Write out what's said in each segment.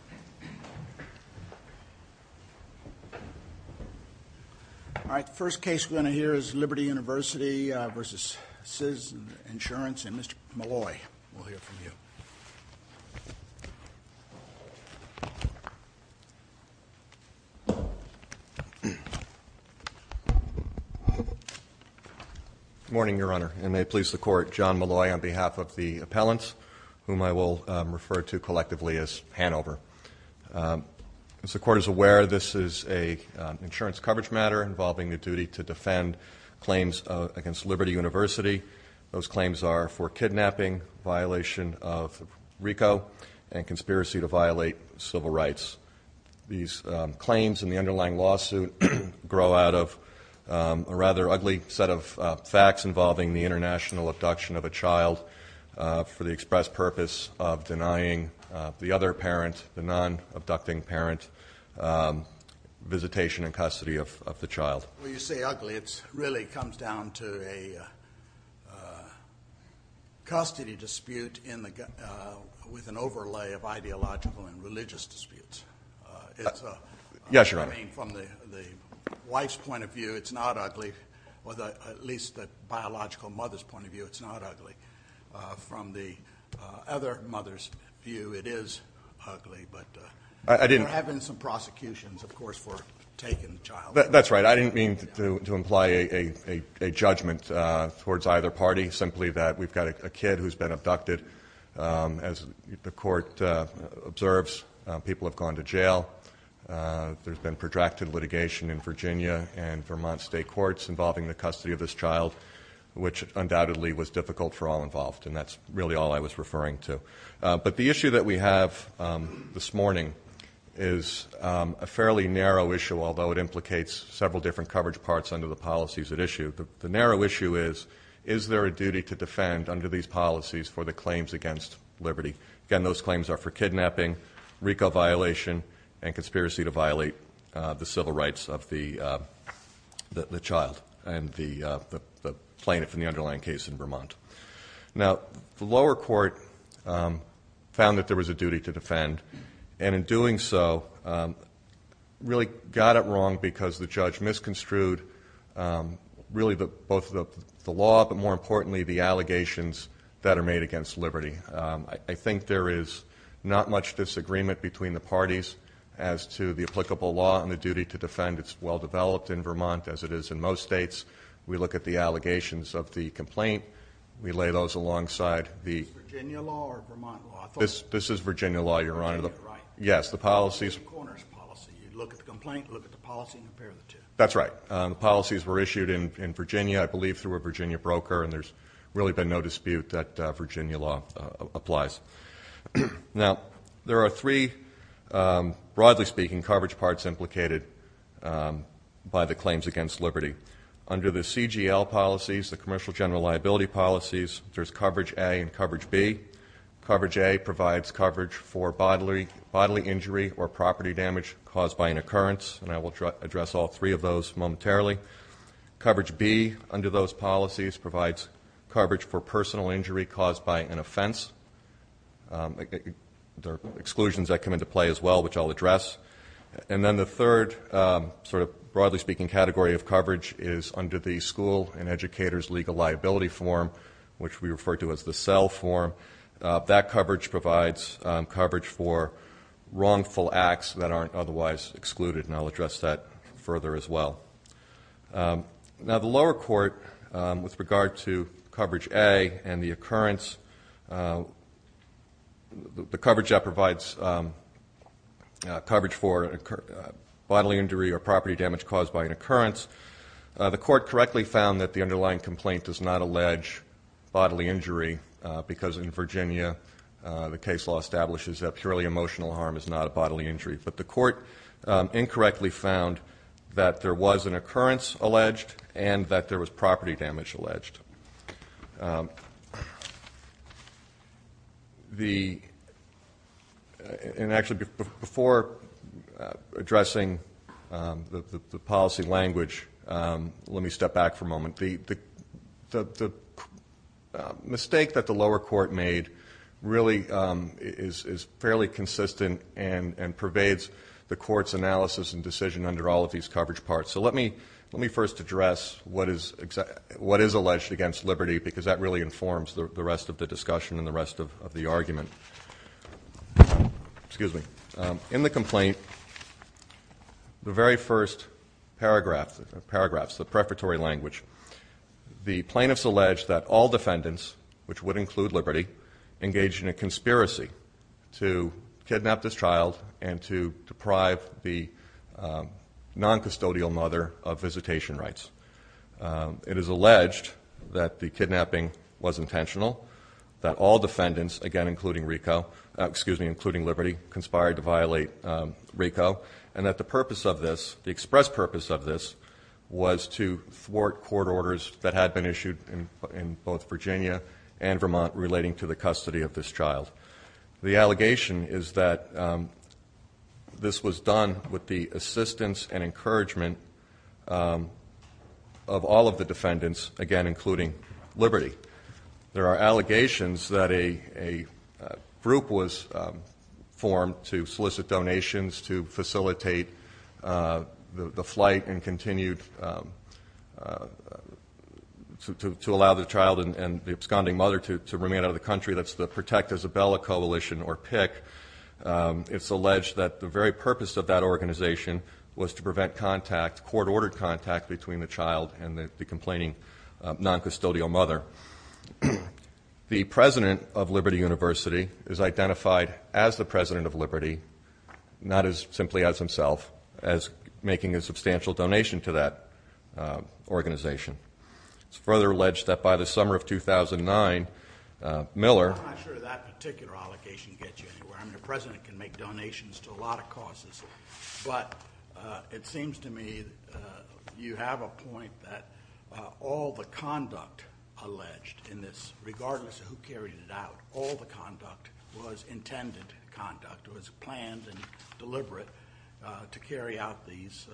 All right, the first case we're going to hear is Liberty University v. Citizens Insurance, and Mr. Molloy, we'll hear from you. Good morning, Your Honor, and may it please the Court, John Molloy on behalf of the appellants, whom I will refer to collectively as Hanover. As the Court is aware, this is an insurance coverage matter involving the duty to defend claims against Liberty University. Those claims are for kidnapping, violation of RICO, and conspiracy to violate civil rights. These claims in the underlying lawsuit grow out of a rather ugly set of facts involving the international abduction of a child for the express purpose of denying the other parent, the non-abducting parent, visitation and custody of the child. Well, when you say ugly, it really comes down to a custody dispute with an overlay of ideological and religious disputes. Yes, Your Honor. I mean, from the wife's point of view, it's not ugly, or at least the biological mother's point of view, it's not ugly. From the other mother's view, it is ugly, but they're having some prosecutions, of course, for taking the child. That's right. I didn't mean to imply a judgment towards either party, simply that we've got a kid who's been abducted. As the Court observes, people have gone to jail. There's been protracted litigation in Virginia and Vermont state courts involving the custody of this child, which undoubtedly was difficult for all involved, and that's really all I was referring to. But the issue that we have this morning is a fairly narrow issue, although it implicates several different coverage parts under the policies at issue. The narrow issue is, is there a duty to defend under these policies for the claims against liberty? Again, those claims are for kidnapping, RICO violation, and conspiracy to violate the civil rights of the child and the plaintiff in the underlying case in Vermont. Now, the lower court found that there was a duty to defend, and in doing so really got it wrong because the judge misconstrued really both the law, but more importantly, the allegations that are made against liberty. I think there is not much disagreement between the parties as to the applicable law and the duty to defend. It's well-developed in Vermont, as it is in most states. We look at the allegations of the complaint. We lay those alongside the- Is this Virginia law or Vermont law? This is Virginia law, Your Honor. Virginia, right. Yes, the policies- It's a corner's policy. You look at the complaint, look at the policy, and compare the two. That's right. The policies were issued in Virginia, I believe through a Virginia broker, and there's really been no dispute that Virginia law applies. Now, there are three, broadly speaking, coverage parts implicated by the claims against liberty. Under the CGL policies, the commercial general liability policies, there's coverage A and coverage B. Coverage A provides coverage for bodily injury or property damage caused by an occurrence, and I will address all three of those momentarily. Coverage B under those policies provides coverage for personal injury caused by an offense. There are exclusions that come into play as well, which I'll address. And then the third, sort of broadly speaking, category of coverage is under the school and educators legal liability form, which we refer to as the CEL form. That coverage provides coverage for wrongful acts that aren't otherwise excluded, and I'll address that further as well. Now, the lower court, with regard to coverage A and the occurrence, the coverage that provides coverage for bodily injury or property damage caused by an occurrence, the court correctly found that the underlying complaint does not allege bodily injury because in Virginia the case law establishes that purely emotional harm is not a bodily injury. But the court incorrectly found that there was an occurrence alleged and that there was property damage alleged. And actually, before addressing the policy language, let me step back for a moment. The mistake that the lower court made really is fairly consistent and pervades the court's analysis and decision under all of these coverage parts. So let me first address what is alleged against Liberty, because that really informs the rest of the discussion and the rest of the argument. Excuse me. In the complaint, the very first paragraphs, the prefatory language, the plaintiffs allege that all defendants, which would include Liberty, engaged in a conspiracy to kidnap this child and to deprive the noncustodial mother of visitation rights. It is alleged that the kidnapping was intentional, that all defendants, again including Liberty, conspired to violate RICO, and that the purpose of this, the express purpose of this, was to thwart court orders that had been issued in both Virginia and Vermont relating to the custody of this child. The allegation is that this was done with the assistance and encouragement of all of the defendants, again including Liberty. There are allegations that a group was formed to solicit donations to facilitate the flight and continued to allow the child and the absconding mother to remain out of the country. That's the Protect Isabella Coalition, or PICC. It's alleged that the very purpose of that organization was to prevent contact, court-ordered contact between the child and the complaining noncustodial mother. The president of Liberty University is identified as the president of Liberty, not as simply as himself, as making a substantial donation to that organization. It's further alleged that by the summer of 2009, Miller I'm not sure that particular allegation gets you anywhere. I mean, the president can make donations to a lot of causes, but it seems to me you have a point that all the conduct alleged in this, regardless of who carried it out, all the conduct was intended conduct, was planned and deliberate to carry out these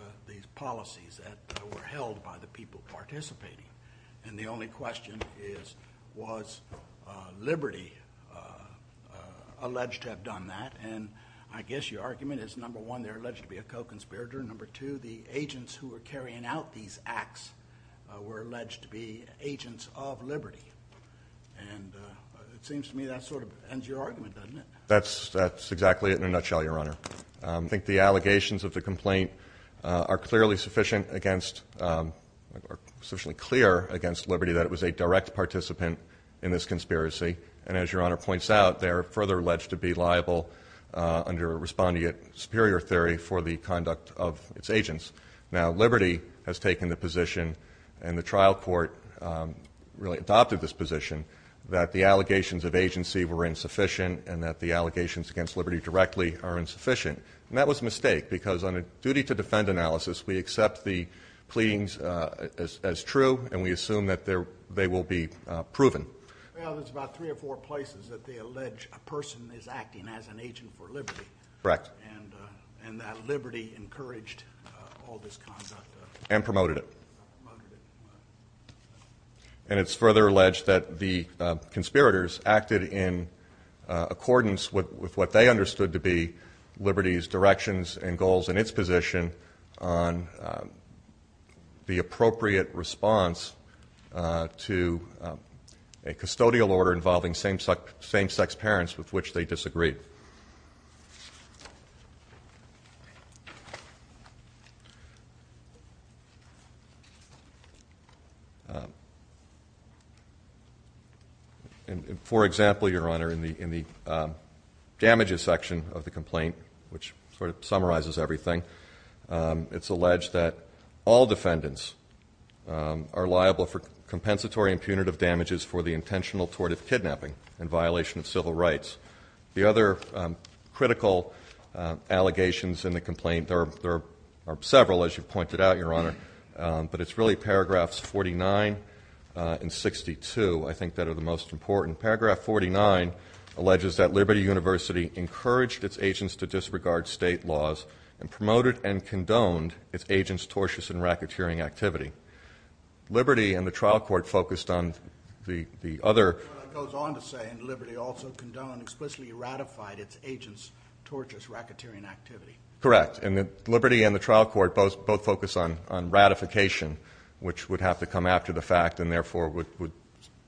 policies that were held by the people participating. And the only question is, was Liberty alleged to have done that? And I guess your argument is, number one, they're alleged to be a co-conspirator. Number two, the agents who were carrying out these acts were alleged to be agents of Liberty. And it seems to me that sort of ends your argument, doesn't it? That's exactly it in a nutshell, Your Honor. I think the allegations of the complaint are clearly sufficient against or sufficiently clear against Liberty that it was a direct participant in this conspiracy. And as Your Honor points out, they're further alleged to be liable, under respondeat superior theory, for the conduct of its agents. Now, Liberty has taken the position, and the trial court really adopted this position, that the allegations of agency were insufficient and that the allegations against Liberty directly are insufficient. And that was a mistake because on a duty to defend analysis, we accept the pleadings as true and we assume that they will be proven. Well, there's about three or four places that they allege a person is acting as an agent for Liberty. Correct. And that Liberty encouraged all this conduct. And promoted it. Promoted it. And it's further alleged that the conspirators acted in accordance with what they understood to be Liberty's directions and goals and its position on the appropriate response to a custodial order involving same-sex parents with which they disagreed. And, for example, Your Honor, in the damages section of the complaint, which sort of summarizes everything, it's alleged that all defendants are liable for compensatory and punitive damages for the intentional tort of kidnapping in violation of civil rights. The other critical allegations in the complaint, there are several, as you pointed out, Your Honor, but it's really paragraphs 49 and 62, I think, that are the most important. Paragraph 49 alleges that Liberty University encouraged its agents to disregard state laws and promoted and condoned its agents' tortious and racketeering activity. Liberty and the trial court focused on the other. It goes on to say, and Liberty also condoned, explicitly ratified its agents' tortious racketeering activity. Correct. And Liberty and the trial court both focus on ratification, which would have to come after the fact and therefore would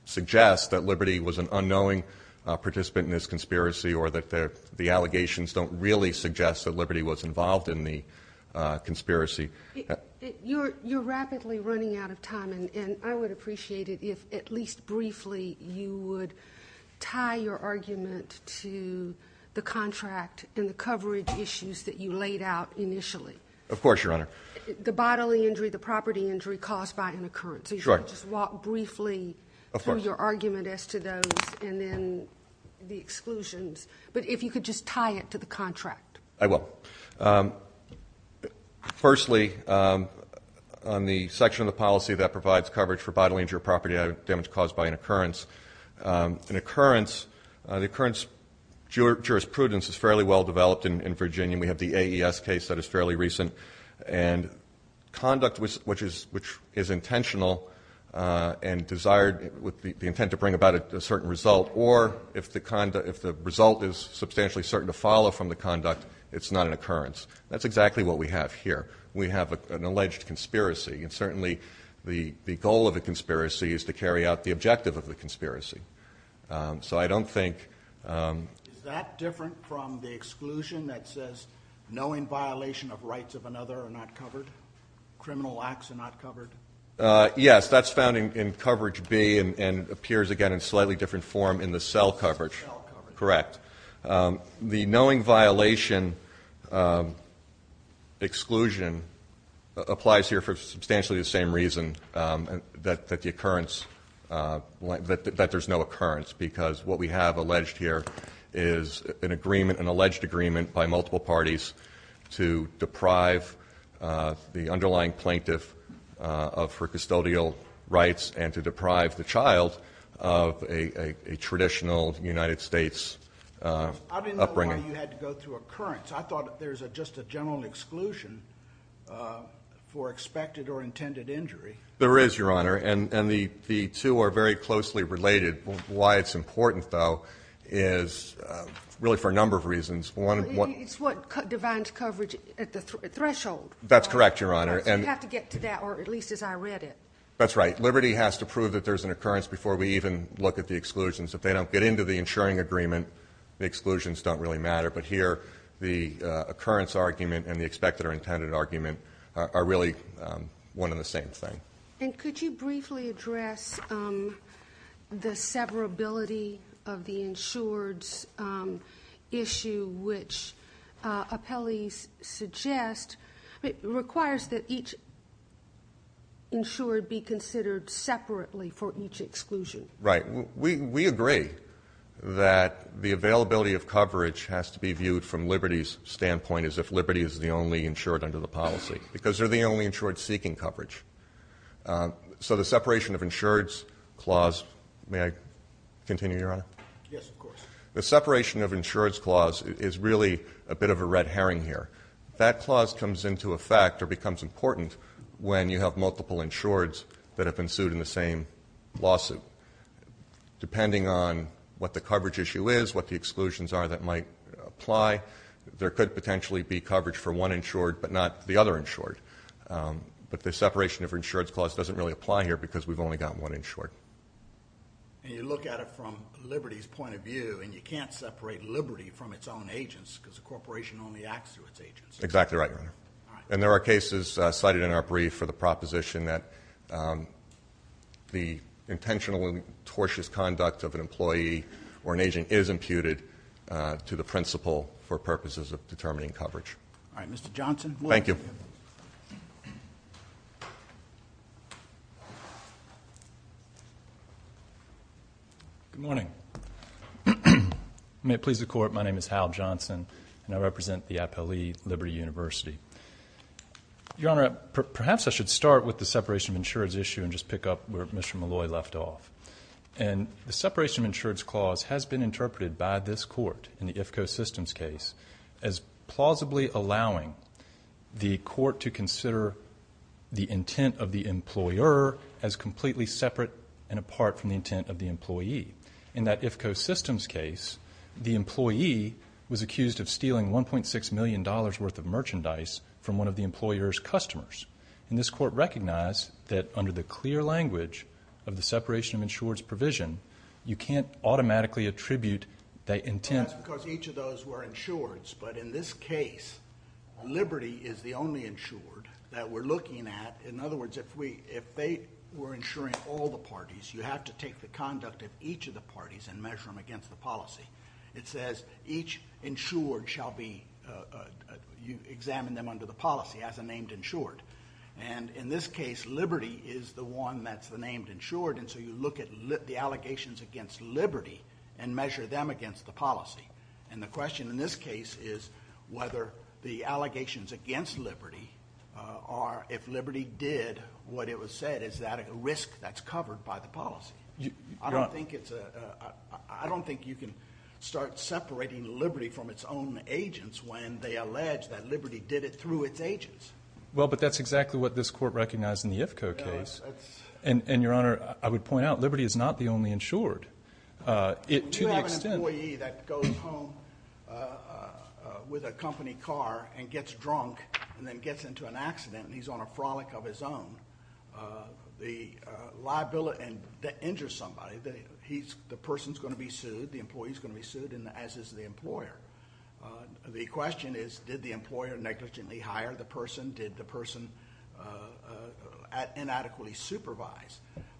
suggest that Liberty was an unknowing participant in this conspiracy or that the allegations don't really suggest that Liberty was involved in the conspiracy. You're rapidly running out of time, and I would appreciate it if, at least briefly, you would tie your argument to the contract and the coverage issues that you laid out initially. Of course, Your Honor. The bodily injury, the property injury caused by an occurrence. Sure. If you could just walk briefly through your argument as to those and then the exclusions, but if you could just tie it to the contract. I will. Firstly, on the section of the policy that provides coverage for bodily injury or property damage caused by an occurrence, an occurrence, the occurrence jurisprudence is fairly well developed in Virginia. We have the AES case that is fairly recent, and conduct which is intentional and desired with the intent to bring about a certain result or if the result is substantially certain to follow from the conduct, it's not an occurrence. That's exactly what we have here. We have an alleged conspiracy, and certainly the goal of the conspiracy is to carry out the objective of the conspiracy. So I don't think – Is that different from the exclusion that says no in violation of rights of another are not covered, criminal acts are not covered? Yes, that's found in coverage B and appears again in a slightly different form in the cell coverage. Cell coverage. Correct. The knowing violation exclusion applies here for substantially the same reason, that the occurrence – that there's no occurrence because what we have alleged here is an agreement, an alleged agreement by multiple parties to deprive the underlying plaintiff of her custodial rights and to deprive the child of a traditional United States upbringing. I didn't know why you had to go through occurrence. I thought there's just a general exclusion for expected or intended injury. There is, Your Honor, and the two are very closely related. Why it's important, though, is really for a number of reasons. It's what divides coverage at the threshold. That's correct, Your Honor. So you have to get to that, or at least as I read it. That's right. Liberty has to prove that there's an occurrence before we even look at the exclusions. If they don't get into the insuring agreement, the exclusions don't really matter. But here, the occurrence argument and the expected or intended argument are really one and the same thing. And could you briefly address the severability of the insured's issue, which appellees suggest requires that each insured be considered separately for each exclusion. Right. We agree that the availability of coverage has to be viewed from Liberty's standpoint as if Liberty is the only insured under the policy because they're the only insured seeking coverage. So the separation of insured's clause, may I continue, Your Honor? Yes, of course. The separation of insured's clause is really a bit of a red herring here. That clause comes into effect or becomes important when you have multiple insured's that have been sued in the same lawsuit. Depending on what the coverage issue is, what the exclusions are that might apply, there could potentially be coverage for one insured but not the other insured. But the separation of insured's clause doesn't really apply here because we've only got one insured. And you look at it from Liberty's point of view, and you can't separate Liberty from its own agents because the corporation only acts through its agents. Exactly right, Your Honor. And there are cases cited in our brief for the proposition that the intentional and tortious conduct of an employee or an agent is imputed to the principal for purposes of determining coverage. All right, Mr. Johnson. Thank you. Good morning. May it please the Court, my name is Hal Johnson, and I represent the appellee, Liberty University. Your Honor, perhaps I should start with the separation of insured's issue and just pick up where Mr. Malloy left off. And the separation of insured's clause has been interpreted by this court in the IFCO systems case as plausibly allowing the court to consider the intent of the employer as completely separate and apart from the intent of the employee. In that IFCO systems case, the employee was accused of stealing $1.6 million worth of merchandise from one of the employer's customers. And this court recognized that under the clear language of the separation of insured's provision, you can't automatically attribute that intent. Well, that's because each of those were insured's. But in this case, Liberty is the only insured that we're looking at. In other words, if they were insuring all the parties, you have to take the conduct of each of the parties and measure them against the policy. It says each insured shall be examined under the policy as a named insured. And in this case, Liberty is the one that's the named insured, and so you look at the allegations against Liberty and measure them against the policy. And the question in this case is whether the allegations against Liberty are if Liberty did what it was said, is that a risk that's covered by the policy. I don't think you can start separating Liberty from its own agents when they allege that Liberty did it through its agents. Well, but that's exactly what this court recognized in the IFCO case. And, Your Honor, I would point out Liberty is not the only insured. When you have an employee that goes home with a company car and gets drunk and then gets into an accident and he's on a frolic of his own, the liability that injures somebody, the person's going to be sued, the employee's going to be sued, as is the employer. The question is did the employer negligently hire the person? Did the person inadequately supervise?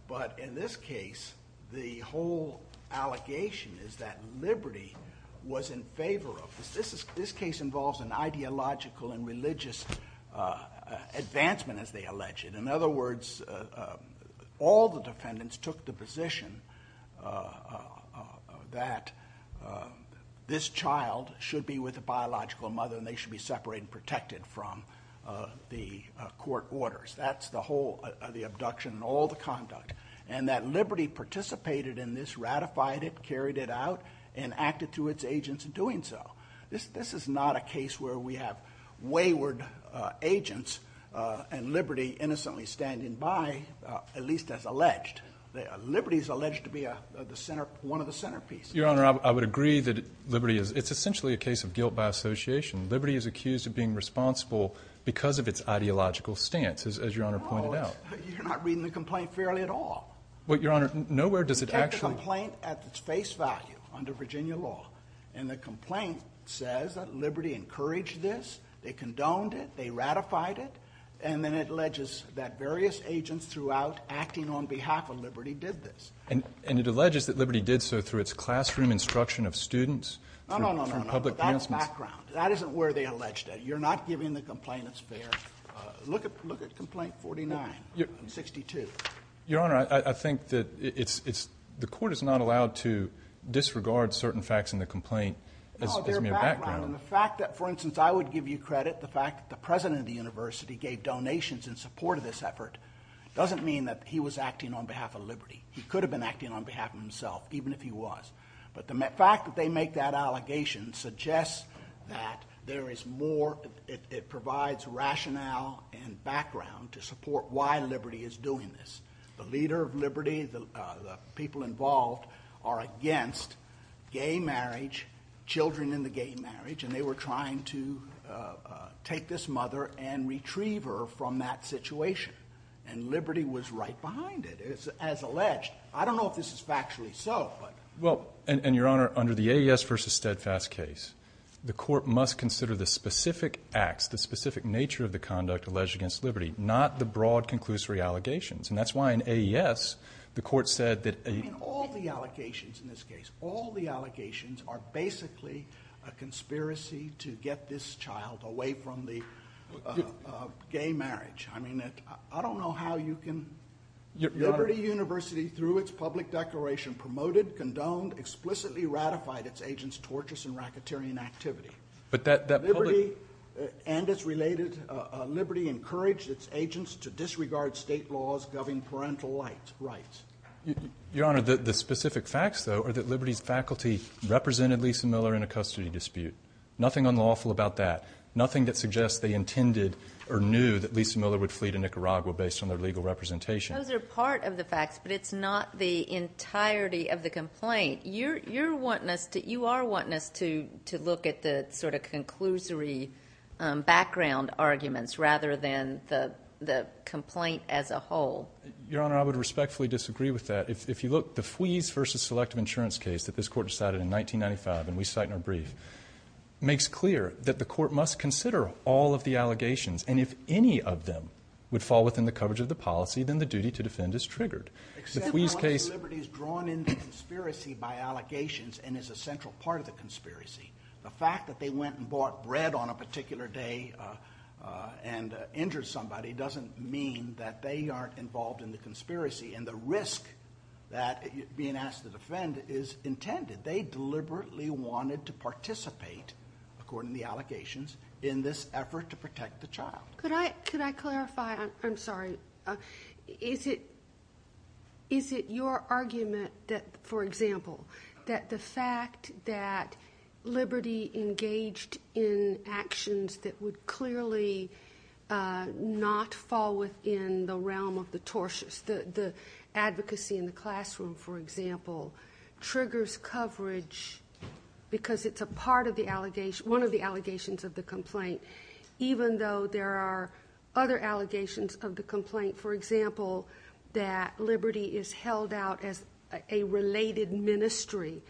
But in this case, the whole allegation is that Liberty was in favor of this. This case involves an ideological and religious advancement, as they allege it. In other words, all the defendants took the position that this child should be with a biological mother and they should be separated and protected from the court orders. That's the whole of the abduction and all the conduct. And that Liberty participated in this, ratified it, carried it out, and acted through its agents in doing so. This is not a case where we have wayward agents and Liberty innocently standing by, at least as alleged. Liberty is alleged to be one of the centerpieces. Your Honor, I would agree that it's essentially a case of guilt by association. Liberty is accused of being responsible because of its ideological stance, as Your Honor pointed out. No, you're not reading the complaint fairly at all. Your Honor, nowhere does it actually... You take the complaint at its face value under Virginia law, and the complaint says that Liberty encouraged this, they condoned it, they ratified it, and then it alleges that various agents throughout acting on behalf of Liberty did this. And it alleges that Liberty did so through its classroom instruction of students, through public commencement. No, no, no, no, that's background. That isn't where they allege that. You're not giving the complaint its fair. Look at complaint 49 and 62. Your Honor, I think that the court is not allowed to disregard certain facts in the complaint as mere background. No, they're background. And the fact that, for instance, I would give you credit, the fact that the president of the university gave donations in support of this effort doesn't mean that he was acting on behalf of Liberty. He could have been acting on behalf of himself, even if he was. But the fact that they make that allegation suggests that there is more, it provides rationale and background to support why Liberty is doing this. The leader of Liberty, the people involved are against gay marriage, children in the gay marriage, and they were trying to take this mother and retrieve her from that situation. And Liberty was right behind it, as alleged. I don't know if this is factually so. And, Your Honor, under the AES v. Steadfast case, the court must consider the specific acts, the specific nature of the conduct alleged against Liberty, not the broad conclusory allegations. And that's why in AES the court said that a All the allegations in this case, all the allegations are basically a conspiracy to get this child away from the gay marriage. I don't know how you can Your Honor Liberty University, through its public declaration, promoted, condoned, explicitly ratified its agents' torturous and racketeering activity. But that public Liberty and its related, Liberty encouraged its agents to disregard state laws governing parental rights. Your Honor, the specific facts, though, are that Liberty's faculty represented Lisa Miller in a custody dispute. Nothing unlawful about that. Nothing that suggests they intended or knew that Lisa Miller would flee to Nicaragua based on their legal representation. Those are part of the facts, but it's not the entirety of the complaint. You are wanting us to look at the sort of conclusory background arguments rather than the complaint as a whole. Your Honor, I would respectfully disagree with that. If you look, the FWIES v. Selective Insurance case that this court decided in 1995, and we cite in our brief, makes clear that the court must consider all of the allegations. And if any of them would fall within the coverage of the policy, then the duty to defend is triggered. Except how much Liberty is drawn into conspiracy by allegations and is a central part of the conspiracy. The fact that they went and bought bread on a particular day and injured somebody doesn't mean that they aren't involved in the conspiracy. And the risk that being asked to defend is intended. They deliberately wanted to participate, according to the allegations, in this effort to protect the child. Could I clarify? I'm sorry. Is it your argument that, for example, that the fact that Liberty engaged in actions that would clearly not fall within the realm of the tortious, the advocacy in the classroom, for example, triggers coverage because it's a part of the allegations, part of the allegations of the complaint, even though there are other allegations of the complaint? For example, that Liberty is held out as a related ministry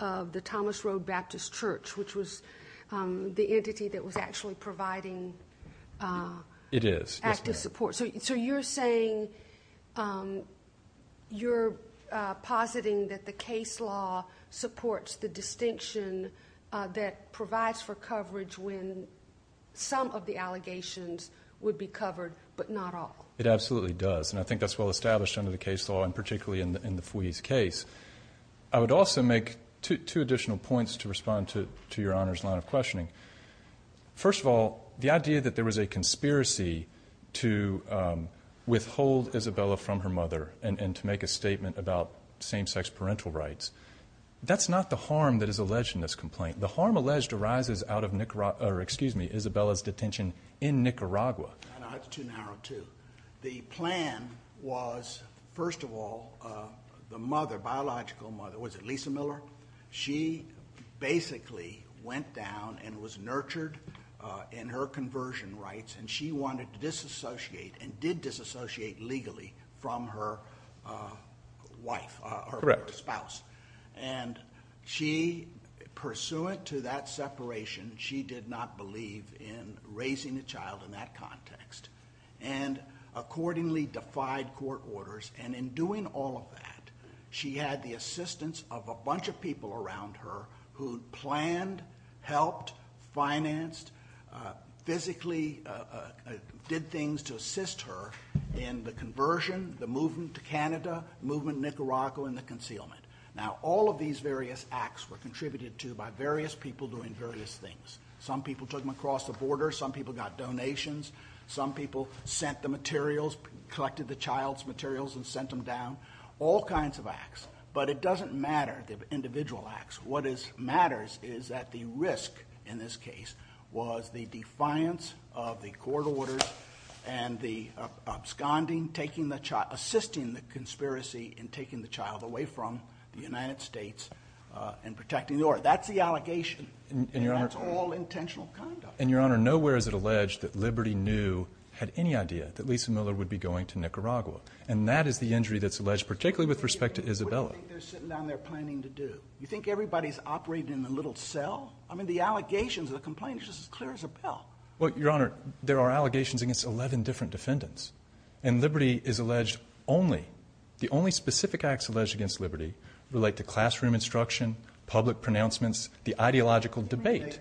of the Thomas Road Baptist Church, which was the entity that was actually providing active support. So you're saying, you're positing that the case law supports the distinction that provides for coverage when some of the allegations would be covered, but not all? It absolutely does. And I think that's well established under the case law, and particularly in the Fwee's case. I would also make two additional points to respond to Your Honor's line of questioning. First of all, the idea that there was a conspiracy to withhold Isabella from her mother and to make a statement about same-sex parental rights, that's not the harm that is alleged in this complaint. The harm alleged arises out of Isabella's detention in Nicaragua. That's too narrow, too. The plan was, first of all, the biological mother, was it Lisa Miller? She basically went down and was nurtured in her conversion rights, and she wanted to disassociate, and did disassociate legally, from her wife or her spouse. Correct. And she, pursuant to that separation, she did not believe in raising a child in that context, and accordingly defied court orders. And in doing all of that, she had the assistance of a bunch of people around her who planned, helped, financed, physically did things to assist her in the conversion, the movement to Canada, movement to Nicaragua, and the concealment. Now, all of these various acts were contributed to by various people doing various things. Some people took them across the border. Some people got donations. Some people sent the materials, collected the child's materials and sent them down. All kinds of acts. But it doesn't matter, the individual acts. What matters is that the risk in this case was the defiance of the court orders and the absconding, taking the child, assisting the conspiracy in taking the child away from the United States and protecting the order. That's the allegation, and that's all intentional conduct. And, Your Honor, nowhere is it alleged that Liberty knew, had any idea, that Lisa Miller would be going to Nicaragua. And that is the injury that's alleged, particularly with respect to Isabella. What do you think they're sitting down there planning to do? You think everybody's operating in a little cell? I mean, the allegations, the complaint is just as clear as a pill. Well, Your Honor, there are allegations against 11 different defendants, and Liberty is alleged only, the only specific acts alleged against Liberty relate to classroom instruction, public pronouncements, the ideological debate.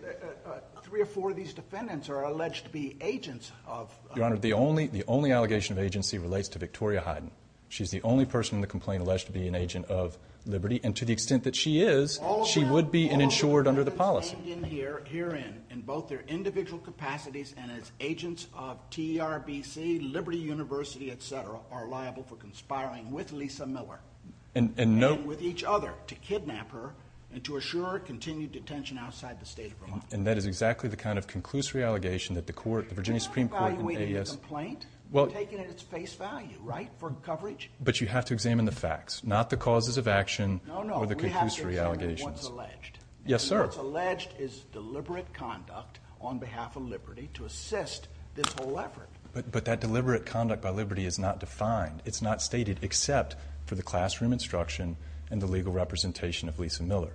Three or four of these defendants are alleged to be agents of... Your Honor, the only allegation of agency relates to Victoria Hyden. She's the only person in the complaint alleged to be an agent of Liberty, and to the extent that she is, she would be an insured under the policy. All of the defendants herein, in both their individual capacities and as agents of TRBC, Liberty University, et cetera, are liable for conspiring with Lisa Miller and with each other to kidnap her and to assure her continued detention outside the state of Vermont. And that is exactly the kind of conclusory allegation that the court, the Virginia Supreme Court and AES... You're not evaluating the complaint. You're taking it at its face value, right, for coverage? But you have to examine the facts, not the causes of action. No, no. We have to examine what's alleged. Yes, sir. And what's alleged is deliberate conduct on behalf of Liberty to assist this whole effort. But that deliberate conduct by Liberty is not defined. It's not stated except for the classroom instruction and the legal representation of Lisa Miller.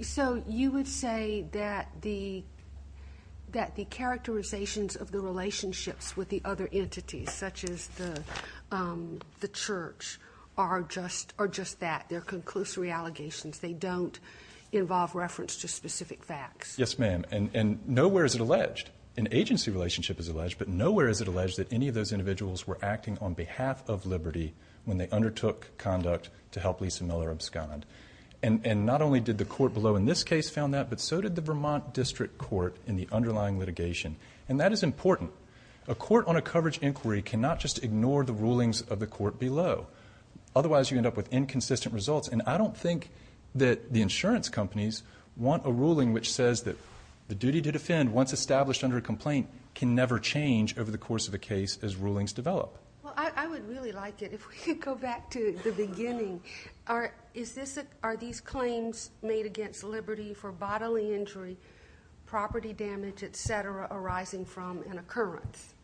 So you would say that the characterizations of the relationships with the other entities, such as the church, are just that. They're conclusory allegations. They don't involve reference to specific facts. Yes, ma'am. And nowhere is it alleged. An agency relationship is alleged, but nowhere is it alleged that any of those individuals were acting on behalf of Liberty when they undertook conduct to help Lisa Miller abscond. And not only did the court below in this case found that, but so did the Vermont District Court in the underlying litigation. And that is important. A court on a coverage inquiry cannot just ignore the rulings of the court below. Otherwise you end up with inconsistent results. And I don't think that the insurance companies want a ruling which says that the duty to defend, once established under a complaint, can never change over the course of a case as rulings develop. Well, I would really like it if we could go back to the beginning. Are these claims made against Liberty for bodily injury, property damage, et cetera, arising from an occurrence?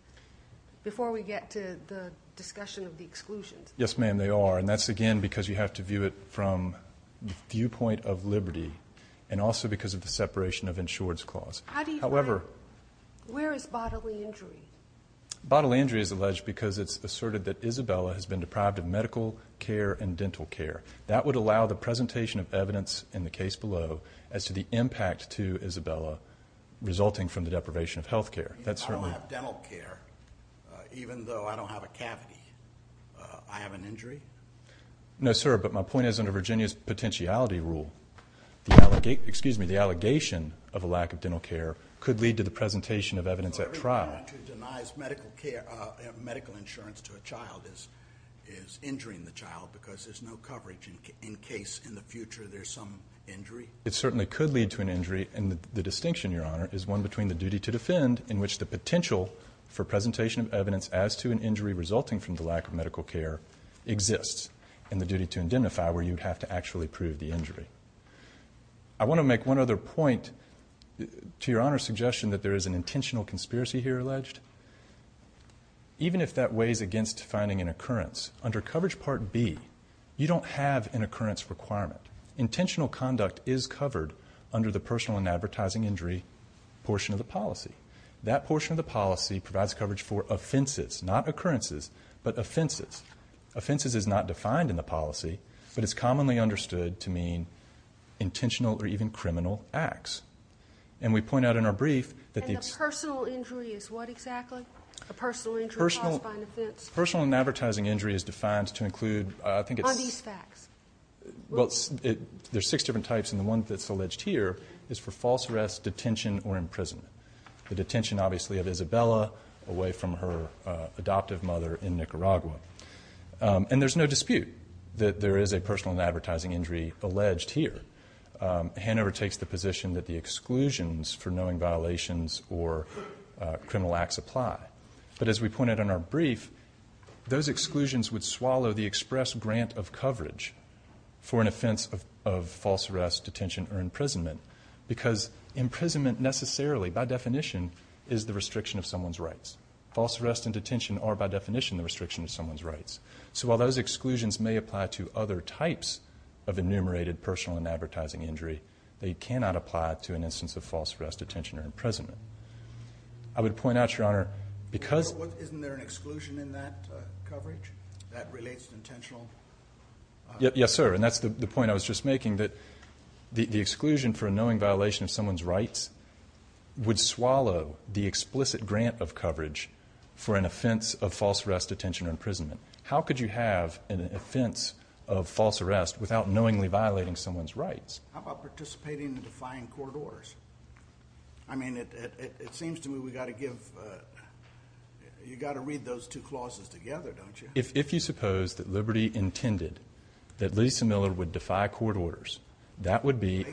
Before we get to the discussion of the exclusions. Yes, ma'am, they are. And that's, again, because you have to view it from the viewpoint of Liberty and also because of the separation of insurance clause. However, where is bodily injury? Bodily injury is alleged because it's asserted that Isabella has been deprived of medical care and dental care. That would allow the presentation of evidence in the case below as to the impact to Isabella resulting from the deprivation of health care. I don't have dental care, even though I don't have a cavity. I have an injury? No, sir, but my point is under Virginia's potentiality rule, the allegation of a lack of dental care could lead to the presentation of evidence at trial. So everybody who denies medical insurance to a child is injuring the child because there's no coverage in case in the future there's some injury? It certainly could lead to an injury, and the distinction, Your Honor, is one between the duty to defend in which the potential for presentation of evidence as to an injury resulting from the lack of medical care exists and the duty to indemnify where you'd have to actually prove the injury. I want to make one other point to Your Honor's suggestion that there is an intentional conspiracy here alleged. Even if that weighs against finding an occurrence, under Coverage Part B you don't have an occurrence requirement. Intentional conduct is covered under the personal and advertising injury portion of the policy. That portion of the policy provides coverage for offenses, not occurrences, but offenses. Offenses is not defined in the policy, but it's commonly understood to mean intentional or even criminal acts. And we point out in our brief that the... Personal and advertising injury is defined to include, I think it's... On these facts. Well, there's six different types, and the one that's alleged here is for false arrest, detention, or imprisonment. The detention, obviously, of Isabella away from her adoptive mother in Nicaragua. And there's no dispute that there is a personal and advertising injury alleged here. Hanover takes the position that the exclusions for knowing violations or criminal acts apply. But as we pointed out in our brief, those exclusions would swallow the express grant of coverage for an offense of false arrest, detention, or imprisonment because imprisonment necessarily, by definition, is the restriction of someone's rights. False arrest and detention are, by definition, the restriction of someone's rights. So while those exclusions may apply to other types of enumerated personal and advertising injury, they cannot apply to an instance of false arrest, detention, or imprisonment. I would point out, Your Honor, because... Isn't there an exclusion in that coverage that relates to intentional... Yes, sir, and that's the point I was just making, that the exclusion for a knowing violation of someone's rights would swallow the explicit grant of coverage for an offense of false arrest, detention, or imprisonment. How could you have an offense of false arrest without knowingly violating someone's rights? How about participating in defying court orders? I mean, it seems to me we've got to give... You've got to read those two clauses together, don't you? If you suppose that Liberty intended that Lisa Miller would defy court orders, that would be...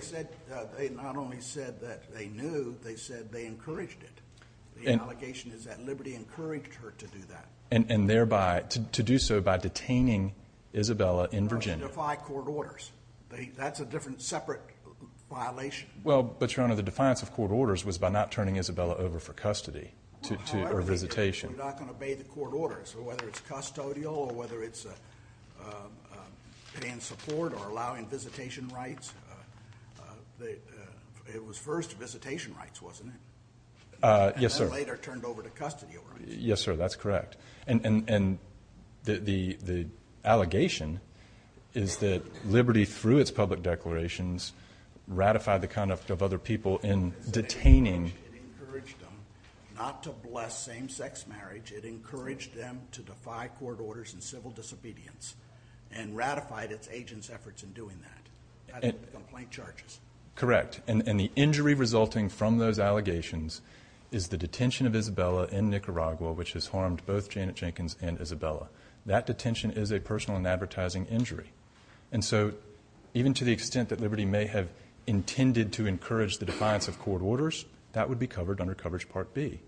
They not only said that they knew, they said they encouraged it. The allegation is that Liberty encouraged her to do that. And thereby, to do so by detaining Isabella in Virginia. Or to defy court orders. That's a different, separate violation. Well, but, Your Honor, the defiance of court orders was by not turning Isabella over for custody or visitation. You're not going to obey the court orders, whether it's custodial or whether it's paying support or allowing visitation rights. It was first visitation rights, wasn't it? Yes, sir. And then later turned over to custodial rights. Yes, sir. That's correct. And the allegation is that Liberty, through its public declarations, ratified the conduct of other people in detaining... It encouraged them not to bless same-sex marriage. It encouraged them to defy court orders and civil disobedience. And ratified its agents' efforts in doing that. Complaint charges. Correct. And the injury resulting from those allegations is the detention of Isabella in Nicaragua, which has harmed both Janet Jenkins and Isabella. That detention is a personal and advertising injury. And so, even to the extent that Liberty may have intended to encourage the defiance of court orders, that would be covered under Coverage Part B.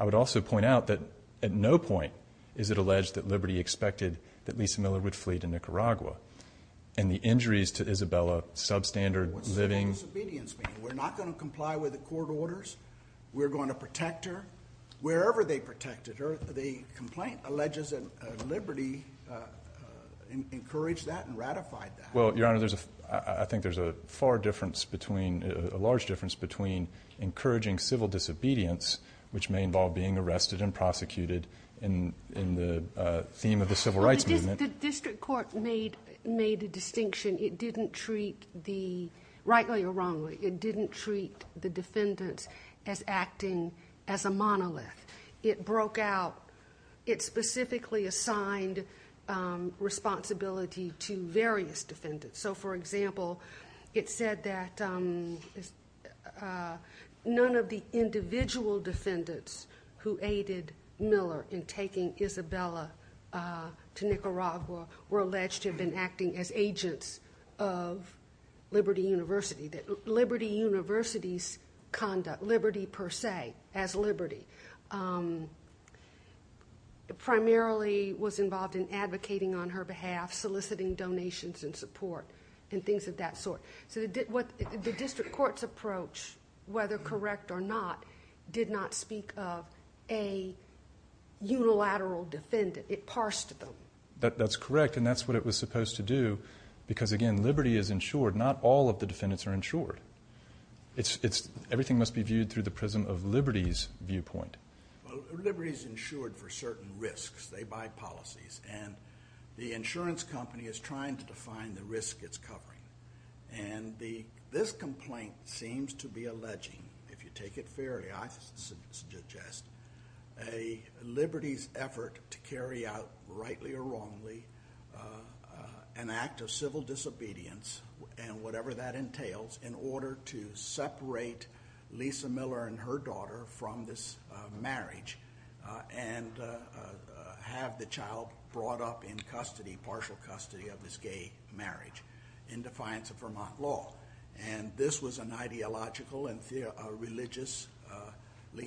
I would also point out that at no point is it alleged that Liberty expected that Lisa Miller would flee to Nicaragua. And the injuries to Isabella, substandard living... What does civil disobedience mean? We're not going to comply with the court orders? We're going to protect her? Wherever they protected her, the complaint alleges that Liberty encouraged that and ratified that. Well, Your Honor, I think there's a far difference between, a large difference between encouraging civil disobedience, which may involve being arrested and prosecuted, in the theme of the civil rights movement... The district court made a distinction. It didn't treat the, rightly or wrongly, it didn't treat the defendants as acting as a monolith. It broke out, it specifically assigned responsibility to various defendants. So, for example, it said that none of the individual defendants who aided Miller in taking Isabella to Nicaragua were alleged to have been acting as agents of Liberty University, that Liberty University's conduct, liberty per se, as liberty, primarily was involved in advocating on her behalf, soliciting donations and support, and things of that sort. So the district court's approach, whether correct or not, did not speak of a unilateral defendant. It parsed them. That's correct, and that's what it was supposed to do, because, again, Liberty is insured. Not all of the defendants are insured. Everything must be viewed through the prism of Liberty's viewpoint. Well, Liberty's insured for certain risks. They buy policies. And the insurance company is trying to define the risk it's covering. And this complaint seems to be alleging, if you take it fairly, I suggest, a Liberty's effort to carry out, rightly or wrongly, an act of civil disobedience and whatever that entails in order to separate Lisa Miller and her daughter from this marriage and have the child brought up in custody, in partial custody of this gay marriage, in defiance of Vermont law. And this was an ideological and religiously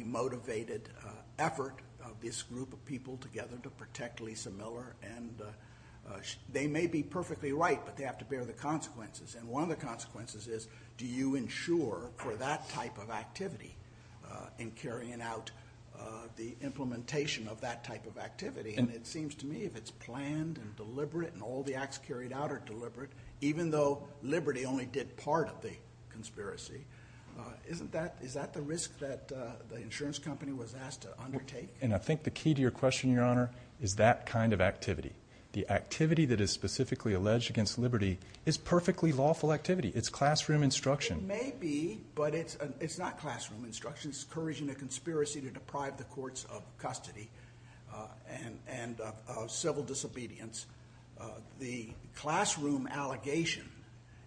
motivated effort of this group of people together to protect Lisa Miller. And they may be perfectly right, but they have to bear the consequences. And one of the consequences is, do you insure for that type of activity in carrying out the implementation of that type of activity? And it seems to me if it's planned and deliberate and all the acts carried out are deliberate, even though Liberty only did part of the conspiracy, is that the risk that the insurance company was asked to undertake? And I think the key to your question, Your Honor, is that kind of activity. The activity that is specifically alleged against Liberty is perfectly lawful activity. It's classroom instruction. It may be, but it's not classroom instruction. It's encouraging a conspiracy to deprive the courts of custody and of civil disobedience. The classroom allegation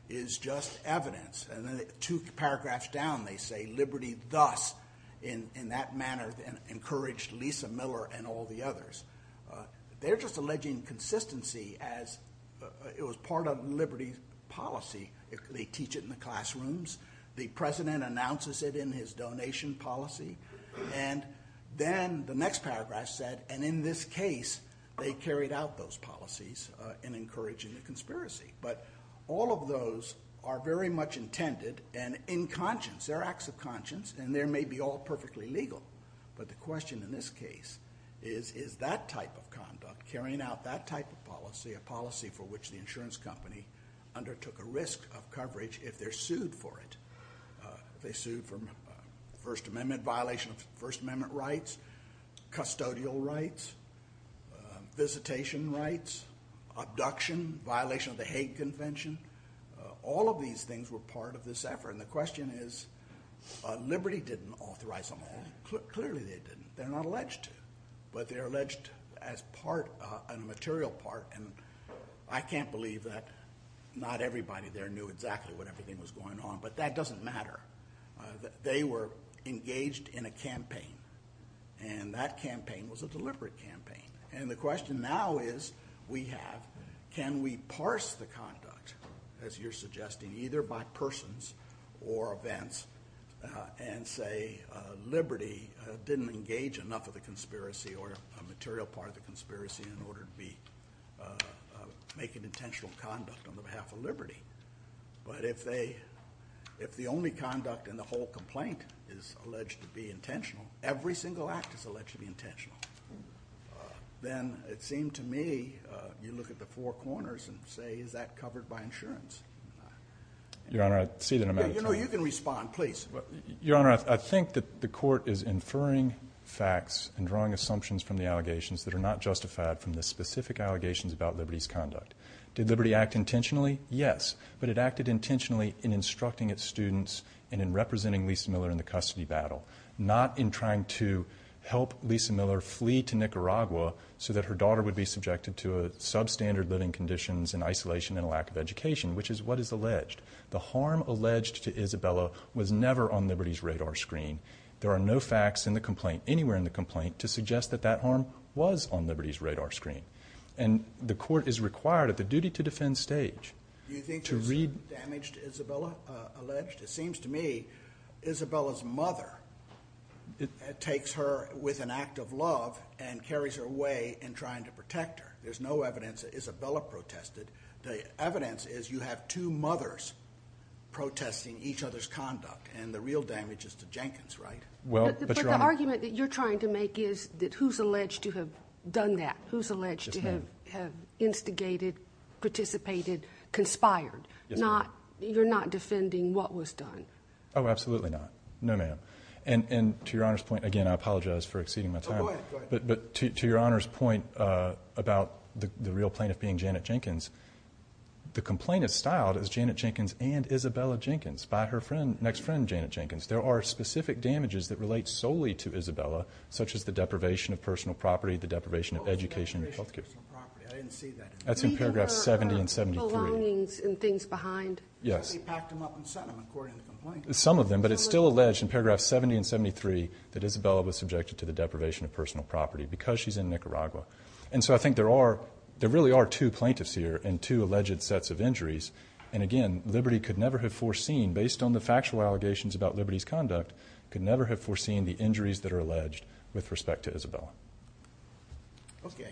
is just evidence. And then two paragraphs down they say, Liberty thus, in that manner, encouraged Lisa Miller and all the others. They're just alleging consistency as it was part of Liberty's policy. They teach it in the classrooms. The President announces it in his donation policy. And then the next paragraph said, and in this case they carried out those policies in encouraging a conspiracy. But all of those are very much intended and in conscience. They're acts of conscience, and they may be all perfectly legal. But the question in this case is, is that type of conduct, carrying out that type of policy, a policy for which the insurance company undertook a risk of coverage if they're sued for it? If they're sued for First Amendment violation of First Amendment rights, custodial rights, visitation rights, abduction, violation of the Hague Convention. All of these things were part of this effort. And the question is, Liberty didn't authorize them all. Clearly they didn't. They're not alleged to. But they're alleged as part, a material part. And I can't believe that not everybody there knew exactly what everything was going on. But that doesn't matter. They were engaged in a campaign. And that campaign was a deliberate campaign. And the question now is, we have, can we parse the conduct, as you're suggesting, either by persons or events, and say Liberty didn't engage enough of the conspiracy or a material part of the conspiracy in order to make an intentional conduct on behalf of Liberty. But if they, if the only conduct in the whole complaint is alleged to be intentional, every single act is alleged to be intentional, then it seemed to me, you look at the four corners and say, is that covered by insurance? Your Honor, I see that I'm out of time. You know, you can respond, please. Your Honor, I think that the Court is inferring facts and drawing assumptions from the allegations that are not justified from the specific allegations about Liberty's conduct. Did Liberty act intentionally? Yes, but it acted intentionally in instructing its students and in representing Lisa Miller in the custody battle, not in trying to help Lisa Miller flee to Nicaragua so that her daughter would be subjected to substandard living conditions and isolation and a lack of education, which is what is alleged. The harm alleged to Isabella was never on Liberty's radar screen. There are no facts in the complaint, anywhere in the complaint, to suggest that that harm was on Liberty's radar screen. And the Court is required, at the duty to defend stage... Do you think there's damage to Isabella alleged? It seems to me Isabella's mother takes her with an act of love and carries her away in trying to protect her. There's no evidence that Isabella protested. The evidence is you have two mothers protesting each other's conduct, and the real damage is to Jenkins, right? But the argument that you're trying to make is that who's alleged to have done that? Who's alleged to have instigated, participated, conspired? You're not defending what was done? Oh, absolutely not. No, ma'am. And to Your Honor's point, again, I apologize for exceeding my time, but to Your Honor's point about the real plaintiff being Janet Jenkins, the complaint is styled as Janet Jenkins and Isabella Jenkins by her next friend, Janet Jenkins. There are specific damages that relate solely to Isabella, such as the deprivation of personal property, the deprivation of education and health care. I didn't see that. That's in paragraphs 70 and 73. Belongings and things behind? Yes. She packed them up and sent them, according to the complaint. Some of them, but it's still alleged in paragraphs 70 and 73 that Isabella was subjected to the deprivation of personal property because she's in Nicaragua. And so I think there really are two plaintiffs here and two alleged sets of injuries. And again, liberty could never have foreseen, based on the factual allegations about liberty's conduct, could never have foreseen the injuries that are alleged with respect to Isabella. Okay.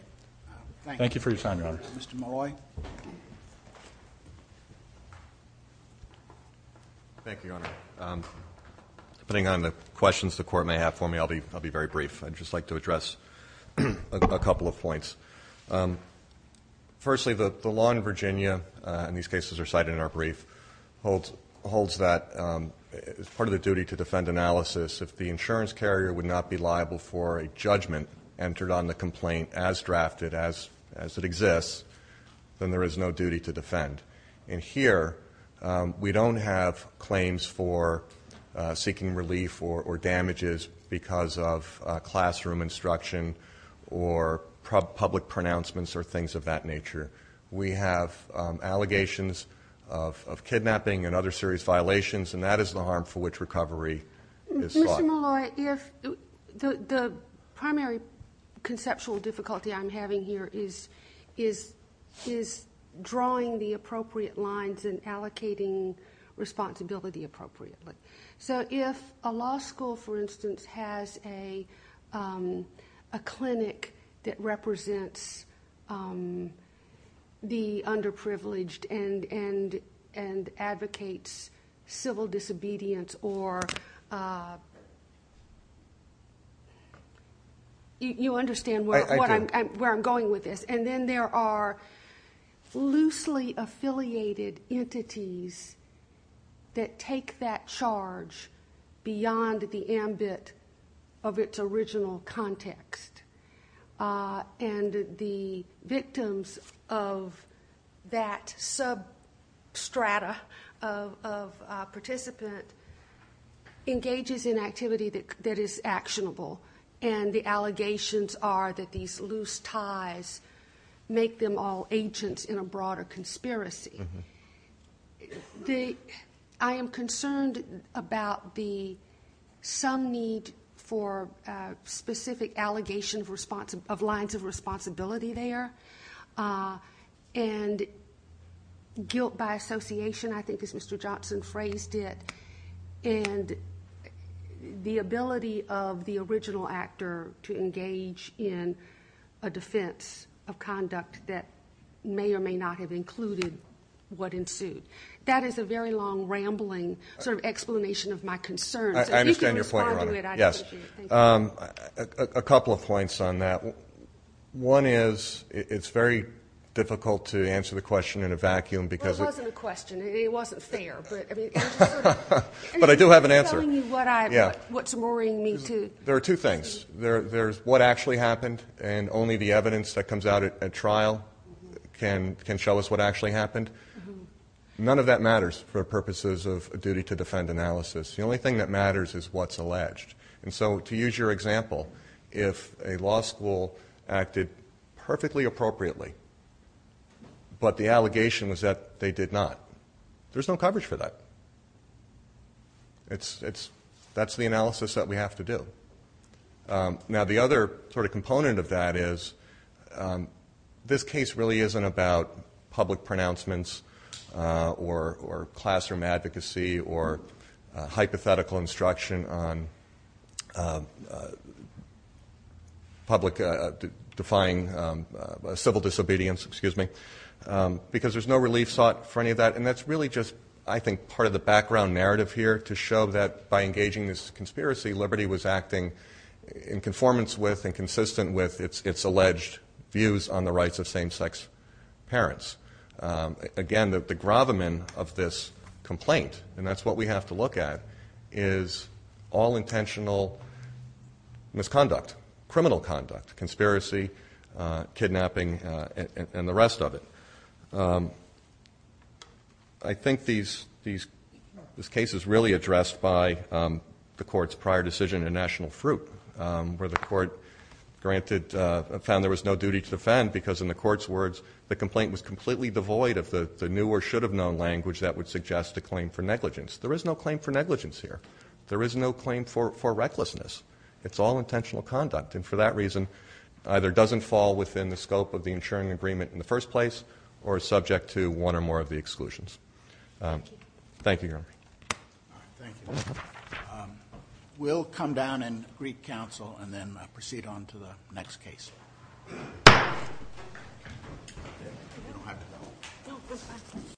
Thank you for your time, Your Honor. Mr. Malloy. Thank you, Your Honor. Depending on the questions the Court may have for me, I'll be very brief. I'd just like to address a couple of points. Firstly, the law in Virginia, and these cases are cited in our brief, holds that as part of the duty-to-defend analysis, if the insurance carrier would not be liable for a judgment entered on the complaint as drafted, as it exists, then there is no duty to defend. And here we don't have claims for seeking relief or damages because of classroom instruction or public pronouncements or things of that nature. We have allegations of kidnapping and other serious violations, and that is the harm for which recovery is sought. Mr. Malloy, the primary conceptual difficulty I'm having here is drawing the appropriate lines and allocating responsibility appropriately. So if a law school, for instance, has a clinic that represents the underprivileged and advocates civil disobedience or you understand where I'm going with this, and then there are loosely affiliated entities that take that charge beyond the ambit of its original context, and the victims of that substrata of participant engages in activity that is actionable, and the allegations are that these loose ties make them all agents in a broader conspiracy, I am concerned about some need for specific allegations of lines of responsibility there and guilt by association, I think as Mr. Johnson phrased it, and the ability of the original actor to engage in a defense of conduct that may or may not have included what ensued. That is a very long, rambling sort of explanation of my concerns. I understand your point, Your Honor. Yes. A couple of points on that. One is it's very difficult to answer the question in a vacuum because it wasn't fair. But I do have an answer. What's worrying me too. There are two things. There's what actually happened and only the evidence that comes out at trial can show us what actually happened. None of that matters for purposes of duty to defend analysis. The only thing that matters is what's alleged. And so to use your example, if a law school acted perfectly appropriately, but the allegation was that they did not, there's no coverage for that. That's the analysis that we have to do. Now the other sort of component of that is this case really isn't about public pronouncements or classroom advocacy or hypothetical instruction on public defying civil disobedience, because there's no relief sought for any of that. And that's really just, I think, part of the background narrative here to show that by engaging this conspiracy, Liberty was acting in conformance with and consistent with its alleged views on the rights of same-sex parents. Again, the gravamen of this complaint, and that's what we have to look at, is all intentional misconduct, criminal conduct, conspiracy, kidnapping, and the rest of it. I think this case is really addressed by the Court's prior decision in National Fruit, where the Court found there was no duty to defend because, in the Court's words, the complaint was completely devoid of the new or should-have-known language that would suggest a claim for negligence. There is no claim for recklessness. It's all intentional conduct, and for that reason, either doesn't fall within the scope of the insuring agreement in the first place or is subject to one or more of the exclusions. Thank you, Your Honor. Thank you. We'll come down and greet counsel and then proceed on to the next case.